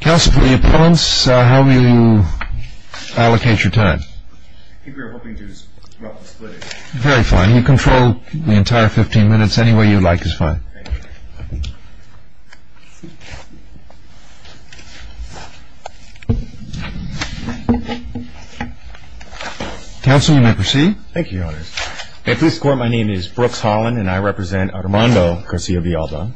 Council for the opponents, how will you allocate your time? I think we were hoping to just roughly split it. Very fine. You control the entire 15 minutes. Any way you like is fine. Thank you. Council, you may proceed. Thank you, Your Honors. At this court, my name is Brooks Holland, and I represent Armando Garcia-Villalba.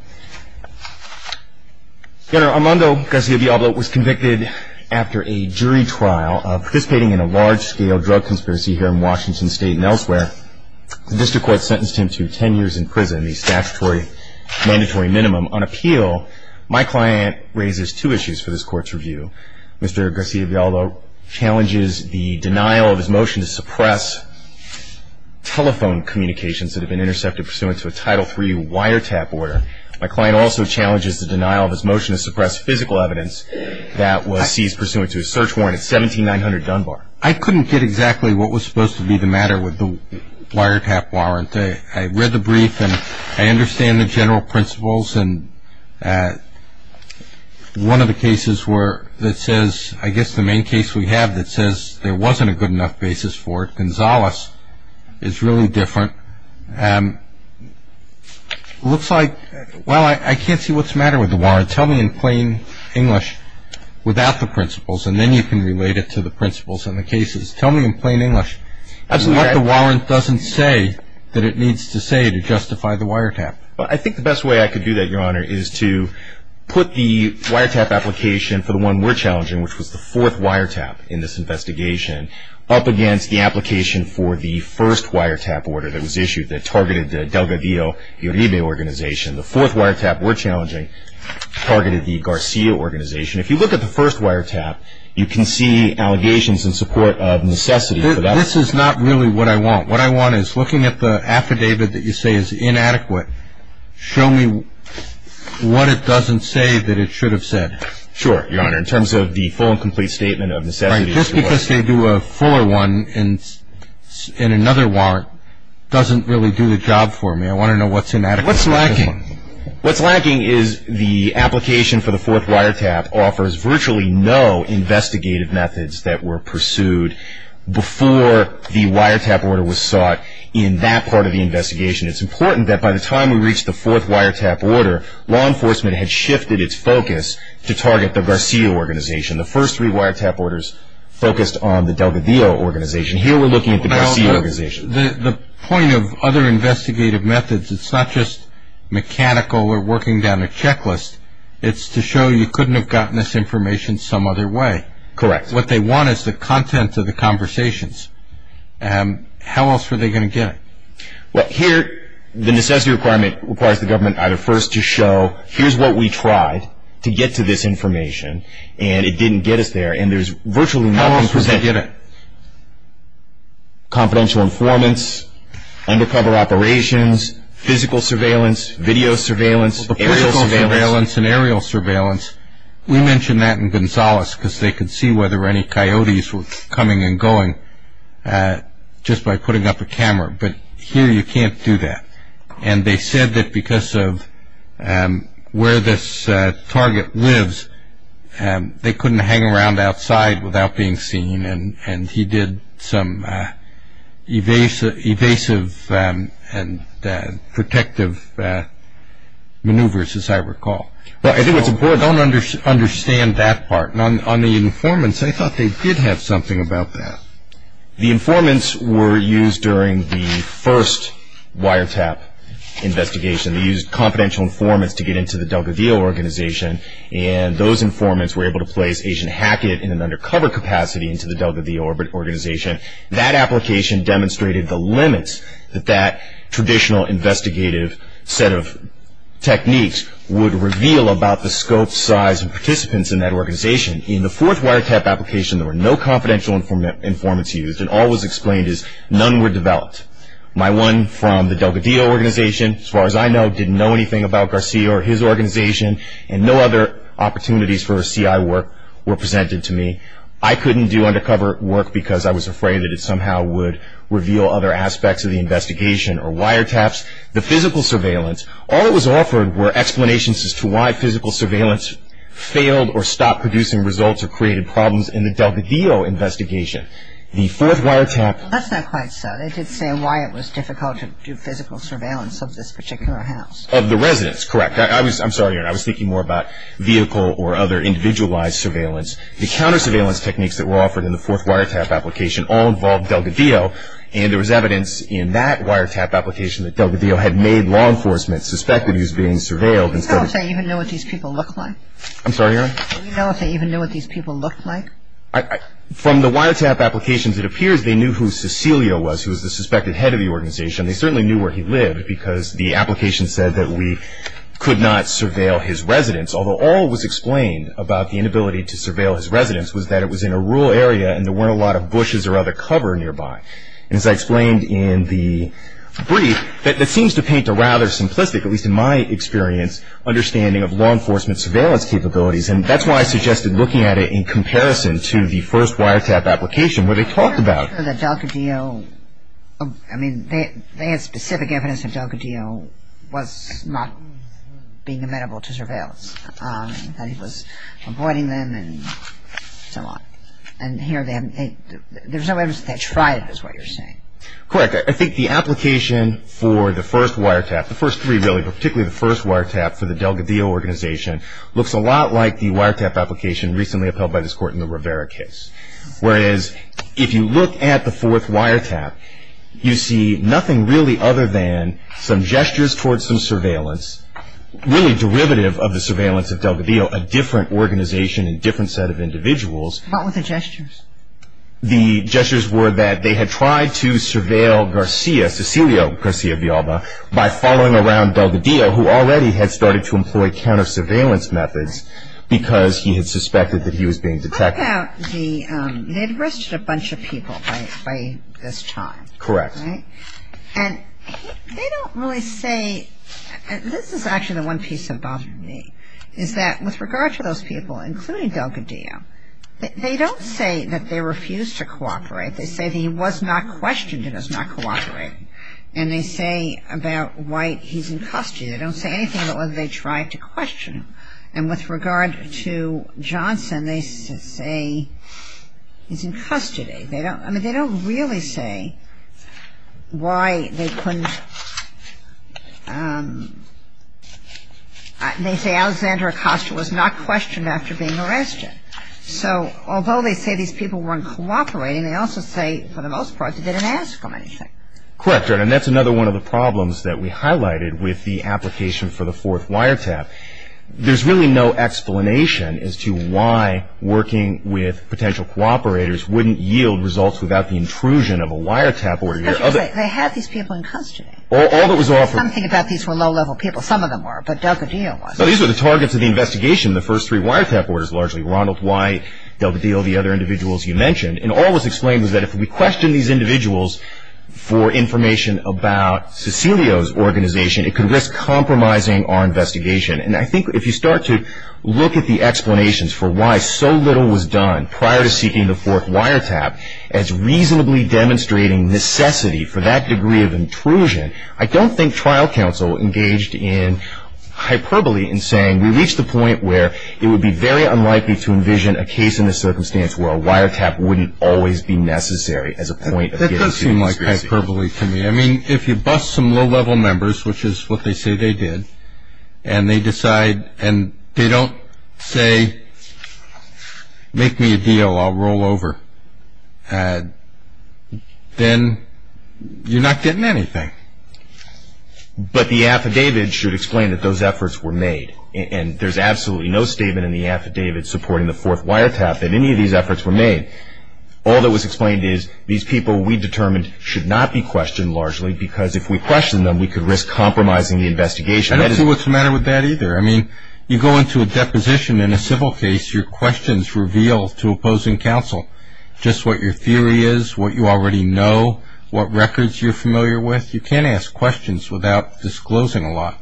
Your Honor, Armando Garcia-Villalba was convicted after a jury trial of participating in a large-scale drug conspiracy here in Washington State and elsewhere. The district court sentenced him to 10 years in prison, the statutory mandatory minimum. On appeal, my client raises two issues for this court's review. Mr. Garcia-Villalba challenges the denial of his motion to suppress telephone communications that had been intercepted pursuant to a Title III wiretap order. My client also challenges the denial of his motion to suppress physical evidence that was seized pursuant to a search warrant at 17900 Dunbar. I couldn't get exactly what was supposed to be the matter with the wiretap warrant. I read the brief, and I understand the general principles. One of the cases that says, I guess the main case we have that says there wasn't a good enough basis for it, is really different. It looks like, well, I can't see what's the matter with the warrant. Tell me in plain English without the principles, and then you can relate it to the principles in the cases. Tell me in plain English. That's what the warrant doesn't say that it needs to say to justify the wiretap. Well, I think the best way I could do that, Your Honor, is to put the wiretap application for the one we're challenging, which was the fourth wiretap in this investigation, up against the application for the first wiretap order that was issued that targeted the Delgadillo Uribe organization. The fourth wiretap we're challenging targeted the Garcia organization. If you look at the first wiretap, you can see allegations in support of necessity. This is not really what I want. What I want is, looking at the affidavit that you say is inadequate, show me what it doesn't say that it should have said. Sure, Your Honor. In terms of the full and complete statement of necessity. Right. Just because they do a fuller one in another warrant doesn't really do the job for me. I want to know what's in that. What's lacking? What's lacking is the application for the fourth wiretap offers virtually no investigative methods that were pursued before the wiretap order was sought in that part of the investigation. It's important that by the time we reached the fourth wiretap order, law enforcement had shifted its focus to target the Garcia organization. The first three wiretap orders focused on the Delgadillo organization. Here we're looking at the Garcia organization. The point of other investigative methods, it's not just mechanical or working down a checklist. It's to show you couldn't have gotten this information some other way. Correct. What they want is the content of the conversations. How else were they going to get it? Well, here the necessity requirement requires the government either first to show, here's what we tried to get to this information, and it didn't get us there. And there's virtually nothing. How else was they going to get it? Confidential informants, undercover operations, physical surveillance, video surveillance. Well, the physical surveillance and aerial surveillance, we mentioned that in Gonzales because they could see whether any coyotes were coming and going just by putting up a camera. But here you can't do that. And they said that because of where this target lives, they couldn't hang around outside without being seen, and he did some evasive and protective maneuvers, as I recall. Well, I think what's important. I don't understand that part. On the informants, I thought they did have something about that. The informants were used during the first wiretap investigation. They used confidential informants to get into the Delgadillo organization, and those informants were able to place agent Hackett in an undercover capacity into the Delgadillo organization. That application demonstrated the limits that that traditional investigative set of techniques would reveal about the scope, size, and participants in that organization. In the fourth wiretap application, there were no confidential informants used, and all was explained is none were developed. My one from the Delgadillo organization, as far as I know, didn't know anything about Garcia or his organization, and no other opportunities for CI work were presented to me. I couldn't do undercover work because I was afraid that it somehow would reveal other aspects of the investigation or wiretaps. The physical surveillance, all that was offered were explanations as to why physical surveillance failed or stopped producing results or created problems in the Delgadillo investigation. The fourth wiretap. That's not quite so. They did say why it was difficult to do physical surveillance of this particular house. Of the residents, correct. I'm sorry, Erin. I was thinking more about vehicle or other individualized surveillance. The counter-surveillance techniques that were offered in the fourth wiretap application all involved Delgadillo, and there was evidence in that wiretap application that Delgadillo had made law enforcement suspect that he was being surveilled. Do you know if they even knew what these people looked like? I'm sorry, Erin. Do you know if they even knew what these people looked like? From the wiretap applications, it appears they knew who Cecilio was, who was the suspected head of the organization. They certainly knew where he lived because the application said that we could not surveil his residence, although all was explained about the inability to surveil his residence was that it was in a rural area and there weren't a lot of bushes or other cover nearby. And as I explained in the brief, that seems to paint a rather simplistic, at least in my experience, understanding of law enforcement surveillance capabilities, and that's why I suggested looking at it in comparison to the first wiretap application where they talked about it. The Delgadillo, I mean, they had specific evidence that Delgadillo was not being amenable to surveillance, that he was avoiding them and so on. And here, there's no evidence that that's right is what you're saying. Correct. I think the application for the first wiretap, the first three really, but particularly the first wiretap for the Delgadillo organization, looks a lot like the wiretap application recently upheld by this Court in the Rivera case. Whereas if you look at the fourth wiretap, you see nothing really other than some gestures towards some surveillance, really derivative of the surveillance of Delgadillo, a different organization and different set of individuals. What were the gestures? The gestures were that they had tried to surveil Garcia, Cecilio Garcia Villalba, by following around Delgadillo, who already had started to employ counter-surveillance methods because he had suspected that he was being detected. What about the, they'd arrested a bunch of people by this time. Correct. Right? And they don't really say, and this is actually the one piece that bothered me, is that with regard to those people, including Delgadillo, they don't say that they refuse to cooperate. They say that he was not questioned and is not cooperating. And they say about why he's in custody. They don't say anything about whether they tried to question him. And with regard to Johnson, they say he's in custody. I mean, they don't really say why they couldn't, they say Alexander Acosta was not questioned after being arrested. So although they say these people weren't cooperating, they also say for the most part they didn't ask him anything. Correct. And that's another one of the problems that we highlighted with the application for the fourth wiretap. There's really no explanation as to why working with potential cooperators wouldn't yield results without the intrusion of a wiretap order. They had these people in custody. All that was offered. Something about these were low-level people. Some of them were, but Delgadillo wasn't. No, these were the targets of the investigation, the first three wiretap orders largely. Ronald White, Delgadillo, the other individuals you mentioned. And all that was explained was that if we questioned these individuals for information about Cecilio's organization, it could risk compromising our investigation. And I think if you start to look at the explanations for why so little was done prior to seeking the fourth wiretap as reasonably demonstrating necessity for that degree of intrusion, I don't think trial counsel engaged in hyperbole in saying we reached the point where it would be very unlikely to envision a case in the circumstance where a wiretap wouldn't always be necessary as a point of getting to the conspiracy. That does seem like hyperbole to me. I mean, if you bust some low-level members, which is what they say they did, and they decide and they don't say make me a deal, I'll roll over, then you're not getting anything. But the affidavit should explain that those efforts were made. And there's absolutely no statement in the affidavit supporting the fourth wiretap that any of these efforts were made. All that was explained is these people we determined should not be questioned largely because if we question them, we could risk compromising the investigation. I don't see what's the matter with that either. I mean, you go into a deposition in a civil case, your questions reveal to opposing counsel just what your theory is, what you already know, what records you're familiar with. You can't ask questions without disclosing a lot.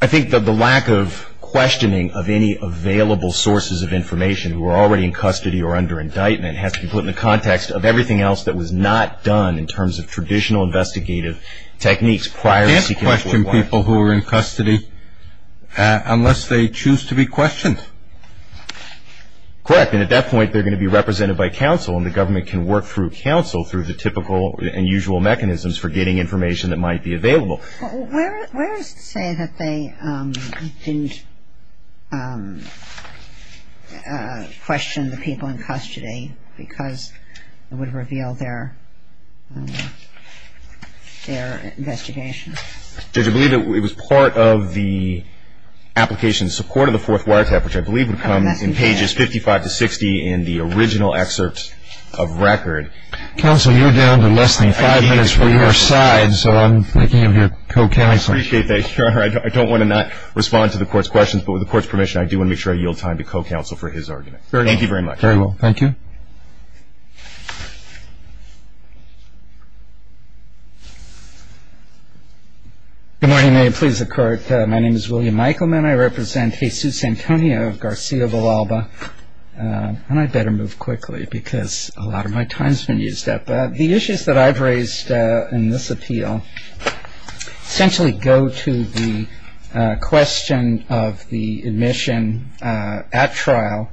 I think that the lack of questioning of any available sources of information who are already in custody or under indictment has to be put in the context of everything else that was not done in terms of traditional investigative techniques prior to seeking a fourth wiretap. You can't question people who are in custody unless they choose to be questioned. Correct. And at that point, they're going to be represented by counsel, and the government can work through counsel through the typical and usual mechanisms for getting information that might be available. Well, where does it say that they didn't question the people in custody because it would reveal their investigation? Judge, I believe it was part of the application in support of the fourth wiretap, which I believe would come in pages 55 to 60 in the original excerpt of record. Counsel, you're down to less than five minutes for your side, so I'm thinking of your co-counsel. I appreciate that, Your Honor. I don't want to not respond to the Court's questions, but with the Court's permission, I do want to make sure I yield time to co-counsel for his argument. Thank you very much. Very well. Thank you. Good morning. May it please the Court. My name is William Eichelman. I represent Jesus Antonio Garcia Villalba. And I'd better move quickly because a lot of my time has been used up. The issues that I've raised in this appeal essentially go to the question of the admission at trial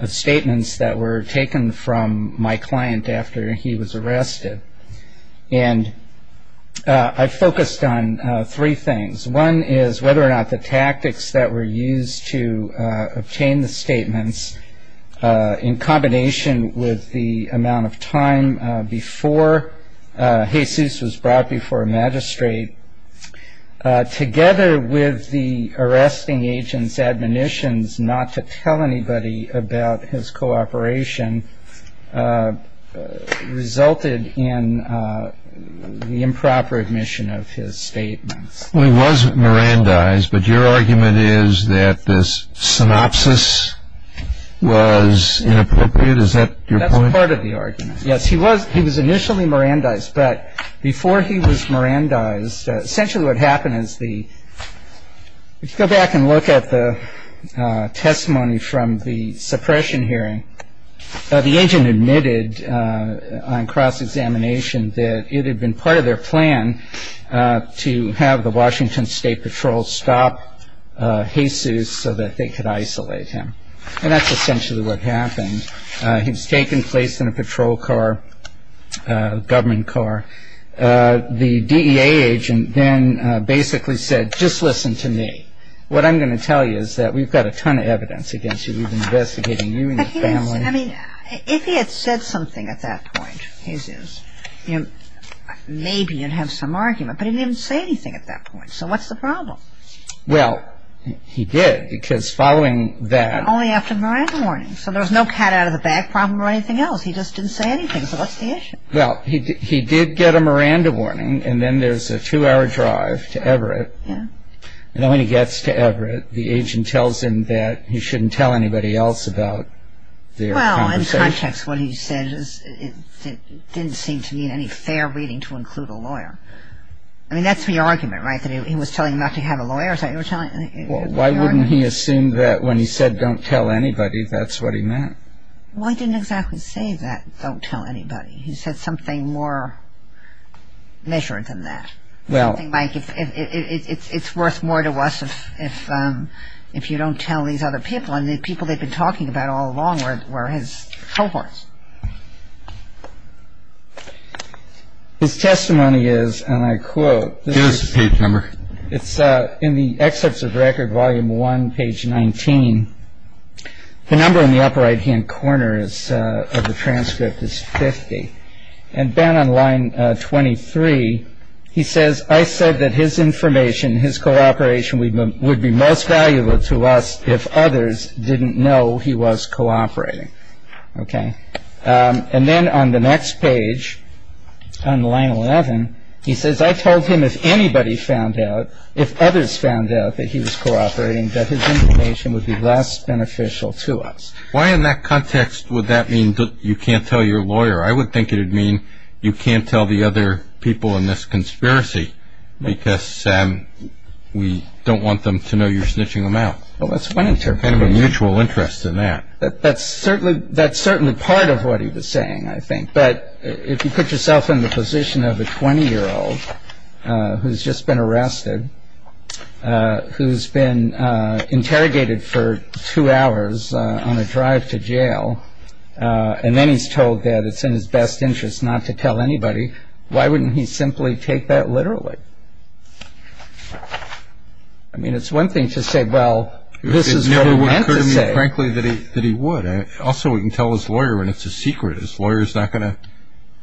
of statements that were taken from my client after he was arrested. And I focused on three things. One is whether or not the tactics that were used to obtain the statements, in combination with the amount of time before Jesus was brought before a magistrate, together with the arresting agent's admonitions not to tell anybody about his cooperation, resulted in the improper admission of his statements. Well, he was Mirandized, but your argument is that this synopsis was inappropriate. Is that your point? That's part of the argument. Yes, he was initially Mirandized. But before he was Mirandized, essentially what happened is the – if you go back and look at the testimony from the suppression hearing, the agent admitted on cross-examination that it had been part of their plan to have the Washington State Patrol stop Jesus so that they could isolate him. And that's essentially what happened. He was taken, placed in a patrol car, a government car. The DEA agent then basically said, just listen to me. What I'm going to tell you is that we've got a ton of evidence against you. We've been investigating you and your family. But he is – I mean, if he had said something at that point, Jesus, maybe you'd have some argument, but he didn't even say anything at that point. So what's the problem? Well, he did, because following that – Only after the Miranda warning. So there was no cat out of the bag problem or anything else. He just didn't say anything. So what's the issue? Well, he did get a Miranda warning, and then there's a two-hour drive to Everett. And then when he gets to Everett, the agent tells him that he shouldn't tell anybody else about their conversation. Well, in context, what he said didn't seem to mean any fair reading to include a lawyer. I mean, that's the argument, right, that he was telling him not to have a lawyer? Well, why wouldn't he assume that when he said don't tell anybody, that's what he meant? Well, he didn't exactly say that, don't tell anybody. He said something more measured than that. Well, I think, Mike, it's worth more to us if you don't tell these other people. I mean, the people they've been talking about all along were his cohorts. His testimony is, and I quote – Here's the page number. It's in the excerpts of Record Volume 1, page 19. The number in the upper right-hand corner of the transcript is 50. And then on line 23, he says, I said that his information, his cooperation would be most valuable to us if others didn't know he was cooperating. Okay. And then on the next page, on line 11, he says, I told him if anybody found out, if others found out that he was cooperating, that his information would be less beneficial to us. Why in that context would that mean you can't tell your lawyer? I would think it would mean you can't tell the other people in this conspiracy because we don't want them to know you're snitching them out. Well, that's one interpretation. Kind of a mutual interest in that. That's certainly part of what he was saying, I think. But if you put yourself in the position of a 20-year-old who's just been arrested, who's been interrogated for two hours on a drive to jail, and then he's told that it's in his best interest not to tell anybody, why wouldn't he simply take that literally? I mean, it's one thing to say, well, this is what he meant to say. It would occur to me, frankly, that he would. Also, we can tell his lawyer when it's a secret. His lawyer is not going to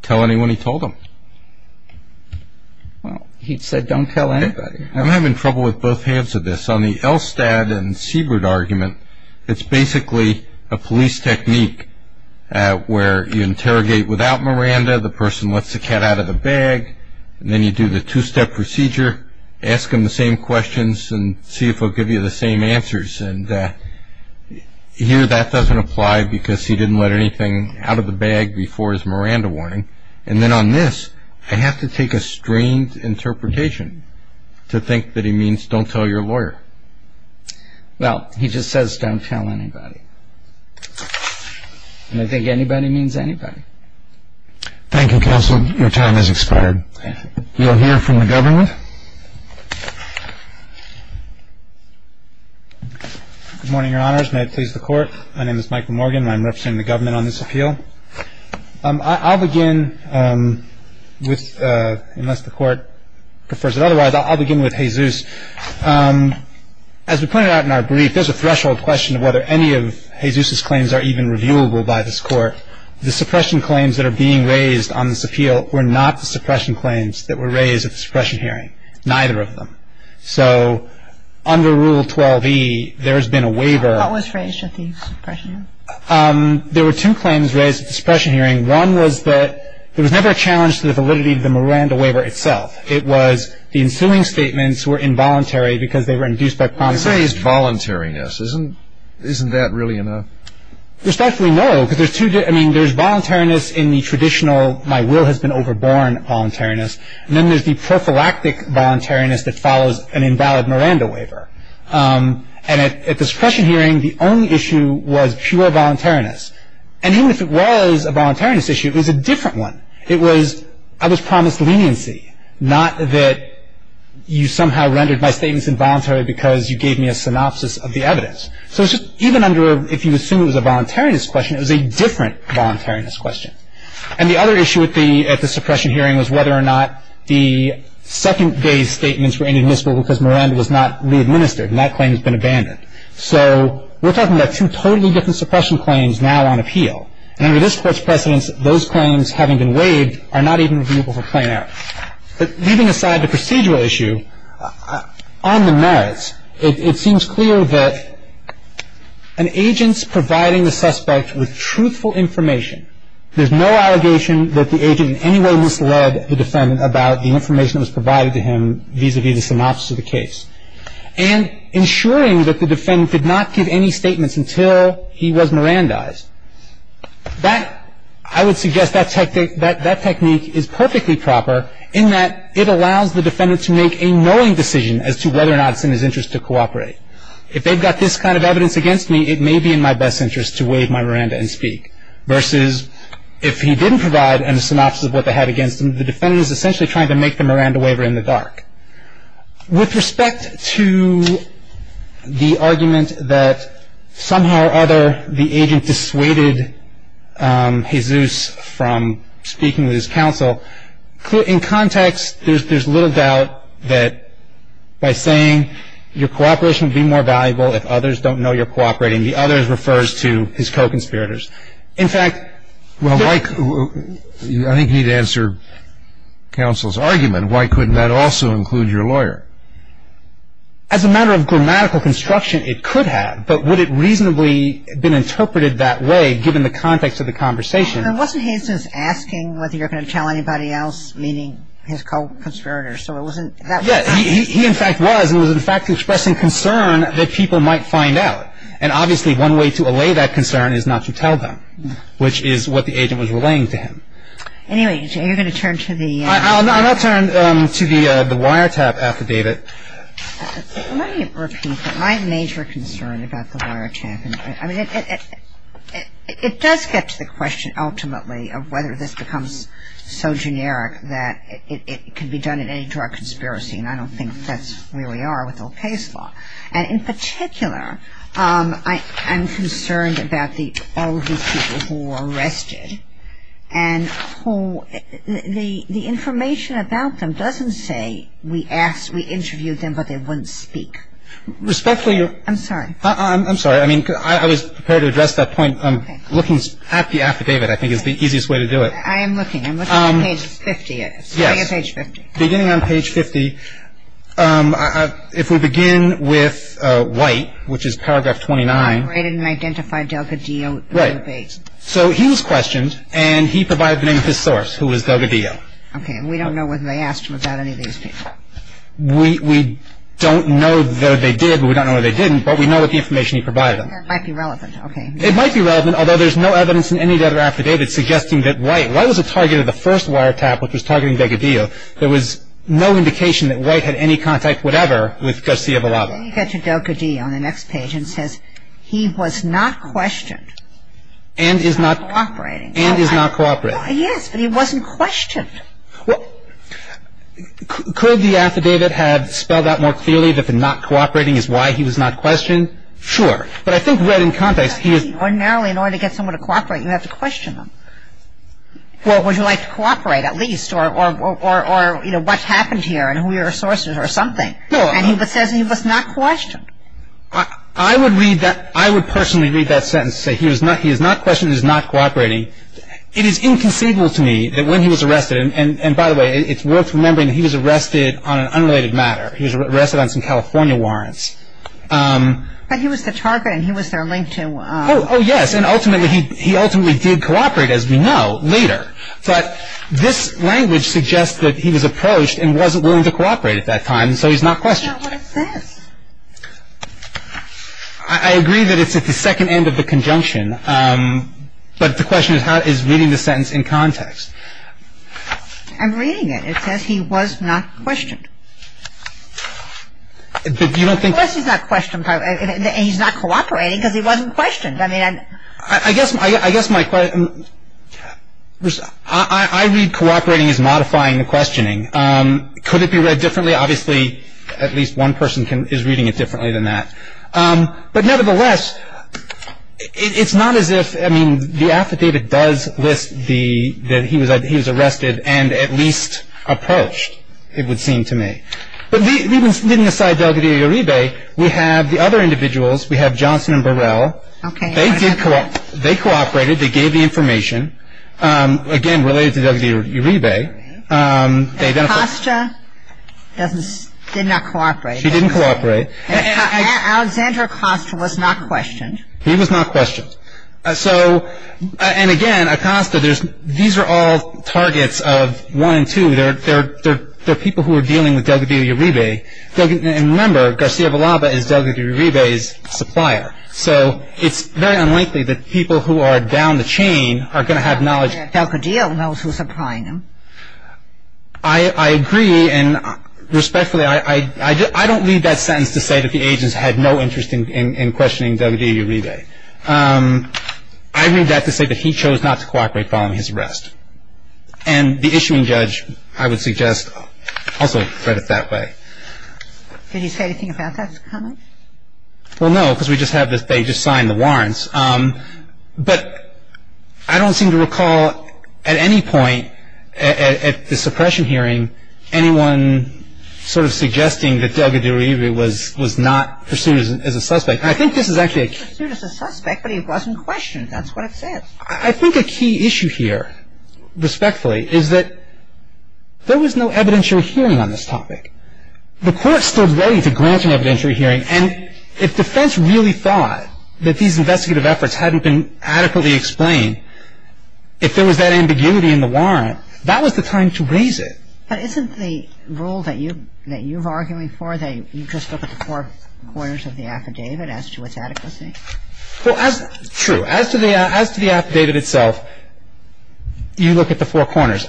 tell anyone he told him. Well, he said don't tell anybody. I'm having trouble with both halves of this. On the Elstad and Siebert argument, it's basically a police technique where you interrogate without Miranda, the person lets the cat out of the bag, and then you do the two-step procedure, ask him the same questions and see if he'll give you the same answers. Here that doesn't apply because he didn't let anything out of the bag before his Miranda warning. And then on this, I have to take a strained interpretation to think that he means don't tell your lawyer. Well, he just says don't tell anybody, and I think anybody means anybody. Thank you, counsel. Your time has expired. Thank you. We'll hear from the government. Good morning, Your Honors. May it please the Court. My name is Michael Morgan, and I'm representing the government on this appeal. I'll begin with, unless the Court prefers otherwise, I'll begin with Jesus. As we pointed out in our brief, there's a threshold question of whether any of Jesus's claims are even reviewable by this Court. The suppression claims that are being raised on this appeal were not the suppression claims that were raised at the suppression hearing, neither of them. So under Rule 12e, there has been a waiver. What was raised at the suppression hearing? There were two claims raised at the suppression hearing. One was that there was never a challenge to the validity of the Miranda waiver itself. It was the ensuing statements were involuntary because they were induced by promiscuity. When you say it's voluntariness, isn't that really enough? There's definitely no, because there's two different – I mean, there's voluntariness in the traditional my will has been overborne voluntariness, and then there's the prophylactic voluntariness that follows an invalid Miranda waiver. And at the suppression hearing, the only issue was pure voluntariness. And even if it was a voluntariness issue, it was a different one. It was, I was promised leniency, not that you somehow rendered my statements involuntary because you gave me a synopsis of the evidence. So even under, if you assume it was a voluntariness question, it was a different voluntariness question. And the other issue at the suppression hearing was whether or not the second day's statements were inadmissible because Miranda was not re-administered and that claim has been abandoned. So we're talking about two totally different suppression claims now on appeal. And under this Court's precedence, those claims having been waived are not even reviewable for plain error. But leaving aside the procedural issue, on the merits, it seems clear that an agent's providing the suspect with truthful information, there's no allegation that the agent in any way misled the defendant about the information that was provided to him vis-à-vis the synopsis of the case. And ensuring that the defendant did not give any statements until he was Mirandized. That, I would suggest that technique is perfectly proper in that it allows the defendant to make a knowing decision as to whether or not it's in his interest to cooperate. If they've got this kind of evidence against me, it may be in my best interest to waive my Miranda and speak. Versus if he didn't provide a synopsis of what they had against him, the defendant is essentially trying to make the Miranda waiver in the dark. With respect to the argument that somehow or other the agent dissuaded Jesus from speaking with his counsel, in context, there's little doubt that by saying your cooperation would be more valuable if others don't know you're cooperating, the others refers to his co-conspirators. In fact, well, I think you need to answer counsel's argument. Why couldn't that also include your lawyer? As a matter of grammatical construction, it could have. But would it reasonably have been interpreted that way given the context of the conversation? And wasn't Jesus asking whether you're going to tell anybody else, meaning his co-conspirators? So it wasn't that way. Yes, he in fact was. He was in fact expressing concern that people might find out. And obviously, one way to allay that concern is not to tell them, which is what the agent was relaying to him. Anyway, you're going to turn to the- I'll turn to the wiretap affidavit. Let me repeat my major concern about the wiretap. I mean, it does get to the question ultimately of whether this becomes so generic that it can be done in any drug conspiracy. And I don't think that's where we are with Ocasio-Cortez law. And in particular, I'm concerned about all of these people who were arrested and who the information about them doesn't say we asked, we interviewed them, but they wouldn't speak. Respectfully, you're- I'm sorry. I'm sorry. I mean, I was prepared to address that point. Looking at the affidavit, I think, is the easiest way to do it. I am looking. I'm looking at page 50. Yes. Beginning on page 50. If we begin with White, which is paragraph 29- Operated and identified Delgadillo. Right. So he was questioned, and he provided the name of his source, who was Delgadillo. Okay. And we don't know whether they asked him about any of these people. We don't know that they did, but we don't know that they didn't, but we know what the information he provided them. That might be relevant. Okay. It might be relevant, although there's no evidence in any of the other affidavits suggesting that White- White was the target of the first wiretap, which was targeting Delgadillo. There was no indication that White had any contact whatever with Garcia Villalba. Then you get to Delgadillo on the next page, and it says, He was not questioned and is not cooperating. And is not cooperating. Yes, but he wasn't questioned. Well, could the affidavit have spelled out more clearly that the not cooperating is why he was not questioned? Sure. But I think read in context, he is- Ordinarily, in order to get someone to cooperate, you have to question them. Well, would you like to cooperate, at least? Or, you know, what happened here and who your sources are or something. And he says he was not questioned. I would read that. I would personally read that sentence and say he is not questioned and is not cooperating. It is inconceivable to me that when he was arrested, and by the way, it's worth remembering he was arrested on an unrelated matter. He was arrested on some California warrants. But he was the target and he was their link to- Oh, yes. And ultimately, he ultimately did cooperate, as we know, later. But this language suggests that he was approached and wasn't willing to cooperate at that time, so he's not questioned. I don't know what it says. I agree that it's at the second end of the conjunction. But the question is reading the sentence in context. I'm reading it. It says he was not questioned. Unless he's not questioned and he's not cooperating because he wasn't questioned. I mean, I guess my question is I read cooperating as modifying the questioning. Could it be read differently? Obviously, at least one person is reading it differently than that. But nevertheless, it's not as if, I mean, the affidavit does list that he was arrested and at least approached, it would seem to me. But leaving aside Delgadillo-Uribe, we have the other individuals. We have Johnson and Burrell. They cooperated. They gave the information, again, related to Delgadillo-Uribe. Acosta did not cooperate. She didn't cooperate. Alexander Acosta was not questioned. He was not questioned. And again, Acosta, these are all targets of one and two. They're people who are dealing with Delgadillo-Uribe. And remember, Garcia Villalba is Delgadillo-Uribe's supplier. So it's very unlikely that people who are down the chain are going to have knowledge. Delgadillo knows who's supplying him. I agree. And respectfully, I don't read that sentence to say that the agents had no interest in questioning Delgadillo-Uribe. I read that to say that he chose not to cooperate following his arrest. And the issuing judge, I would suggest, also read it that way. Did he say anything about that comment? Well, no, because we just have this they just signed the warrants. But I don't seem to recall at any point at the suppression hearing anyone sort of suggesting that Delgadillo-Uribe was not pursued as a suspect. And I think this is actually a key issue. Pursued as a suspect, but he wasn't questioned. That's what it says. I think a key issue here, respectfully, is that there was no evidentiary hearing on this topic. The court stood ready to grant an evidentiary hearing. And if defense really thought that these investigative efforts hadn't been adequately explained, if there was that ambiguity in the warrant, that was the time to raise it. But isn't the rule that you're arguing for that you just look at the four corners of the affidavit as to its adequacy? Well, true. As to the affidavit itself, you look at the four corners.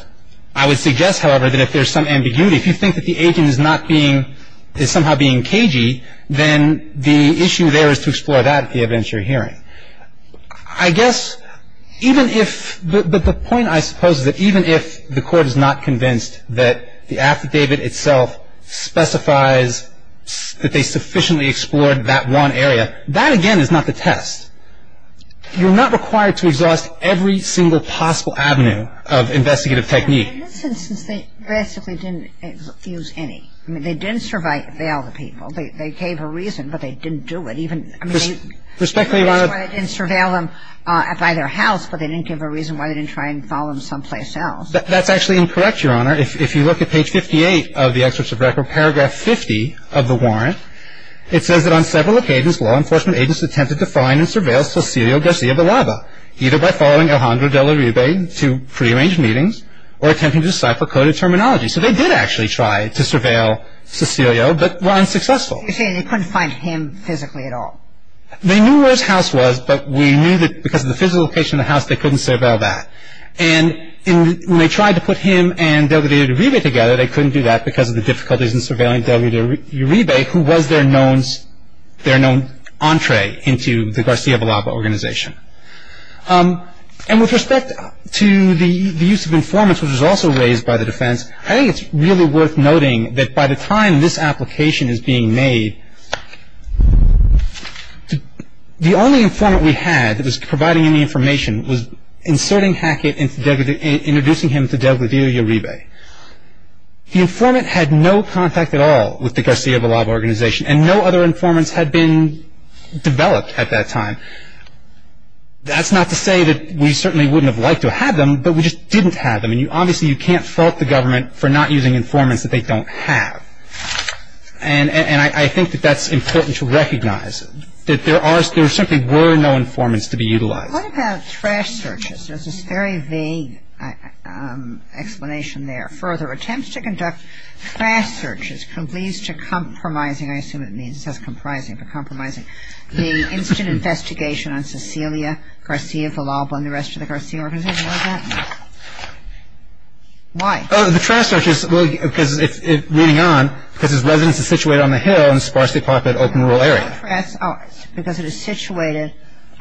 I would suggest, however, that if there's some ambiguity, if you think that the agent is not being – is somehow being cagey, then the issue there is to explore that at the evidentiary hearing. I guess even if – but the point, I suppose, is that even if the court is not convinced that the affidavit itself specifies that they sufficiently explored that one area, that again is not the test. You're not required to exhaust every single possible avenue of investigative technique. In this instance, they basically didn't use any. I mean, they didn't surveil the people. They gave a reason, but they didn't do it. Respectfully, Your Honor – They didn't surveil them by their house, but they didn't give a reason why they didn't try and follow them someplace else. That's actually incorrect, Your Honor. If you look at page 58 of the excerpt of record, paragraph 50 of the warrant, it says that on several occasions, law enforcement agents attempted to find and surveil Cecilio Garcia Villalba, either by following Alejandro de Uribe to prearranged meetings or attempting to decipher coded terminology. So they did actually try to surveil Cecilio, but were unsuccessful. You're saying they couldn't find him physically at all. They knew where his house was, but we knew that because of the physical location of the house, they couldn't surveil that. And when they tried to put him and de Uribe together, they couldn't do that because of the difficulties in surveilling de Uribe, who was their known entree into the Garcia Villalba organization. And with respect to the use of informants, which was also raised by the defense, I think it's really worth noting that by the time this application is being made, the only informant we had that was providing any information was inserting Hackett, introducing him to de Uribe. The informant had no contact at all with the Garcia Villalba organization, and no other informants had been developed at that time. That's not to say that we certainly wouldn't have liked to have them, but we just didn't have them. And obviously you can't fault the government for not using informants that they don't have. And I think that that's important to recognize, that there certainly were no informants to be utilized. What about trash searches? There's this very vague explanation there. Further attempts to conduct trash searches leads to compromising, I assume it means it says comprising, but compromising, the instant investigation on Cecilia Garcia Villalba and the rest of the Garcia organization. Why is that? Why? The trash searches, reading on, because his residence is situated on the hill in a sparsely populated open rural area. Because it is situated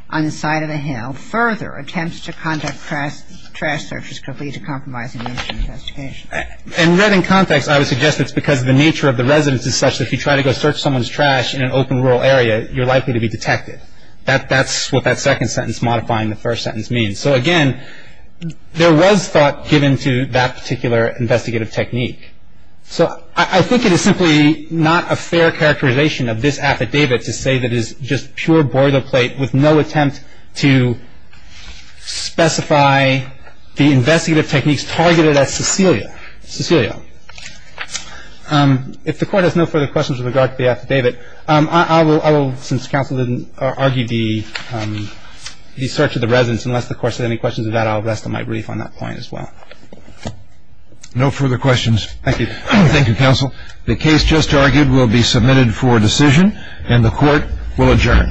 on the side of the hill. Further attempts to conduct trash searches could lead to compromising the investigation. And read in context, I would suggest it's because the nature of the residence is such that if you try to go search someone's trash in an open rural area, you're likely to be detected. That's what that second sentence modifying the first sentence means. So again, there was thought given to that particular investigative technique. So I think it is simply not a fair characterization of this affidavit to say that it is just pure boilerplate with no attempt to specify the investigative techniques targeted at Cecilia. Cecilia, if the Court has no further questions with regard to the affidavit, I will, since counsel didn't argue the search of the residence, unless the Court has any questions of that, I'll rest on my brief on that point as well. No further questions. Thank you. Thank you, counsel. The case just argued will be submitted for decision, and the Court will adjourn.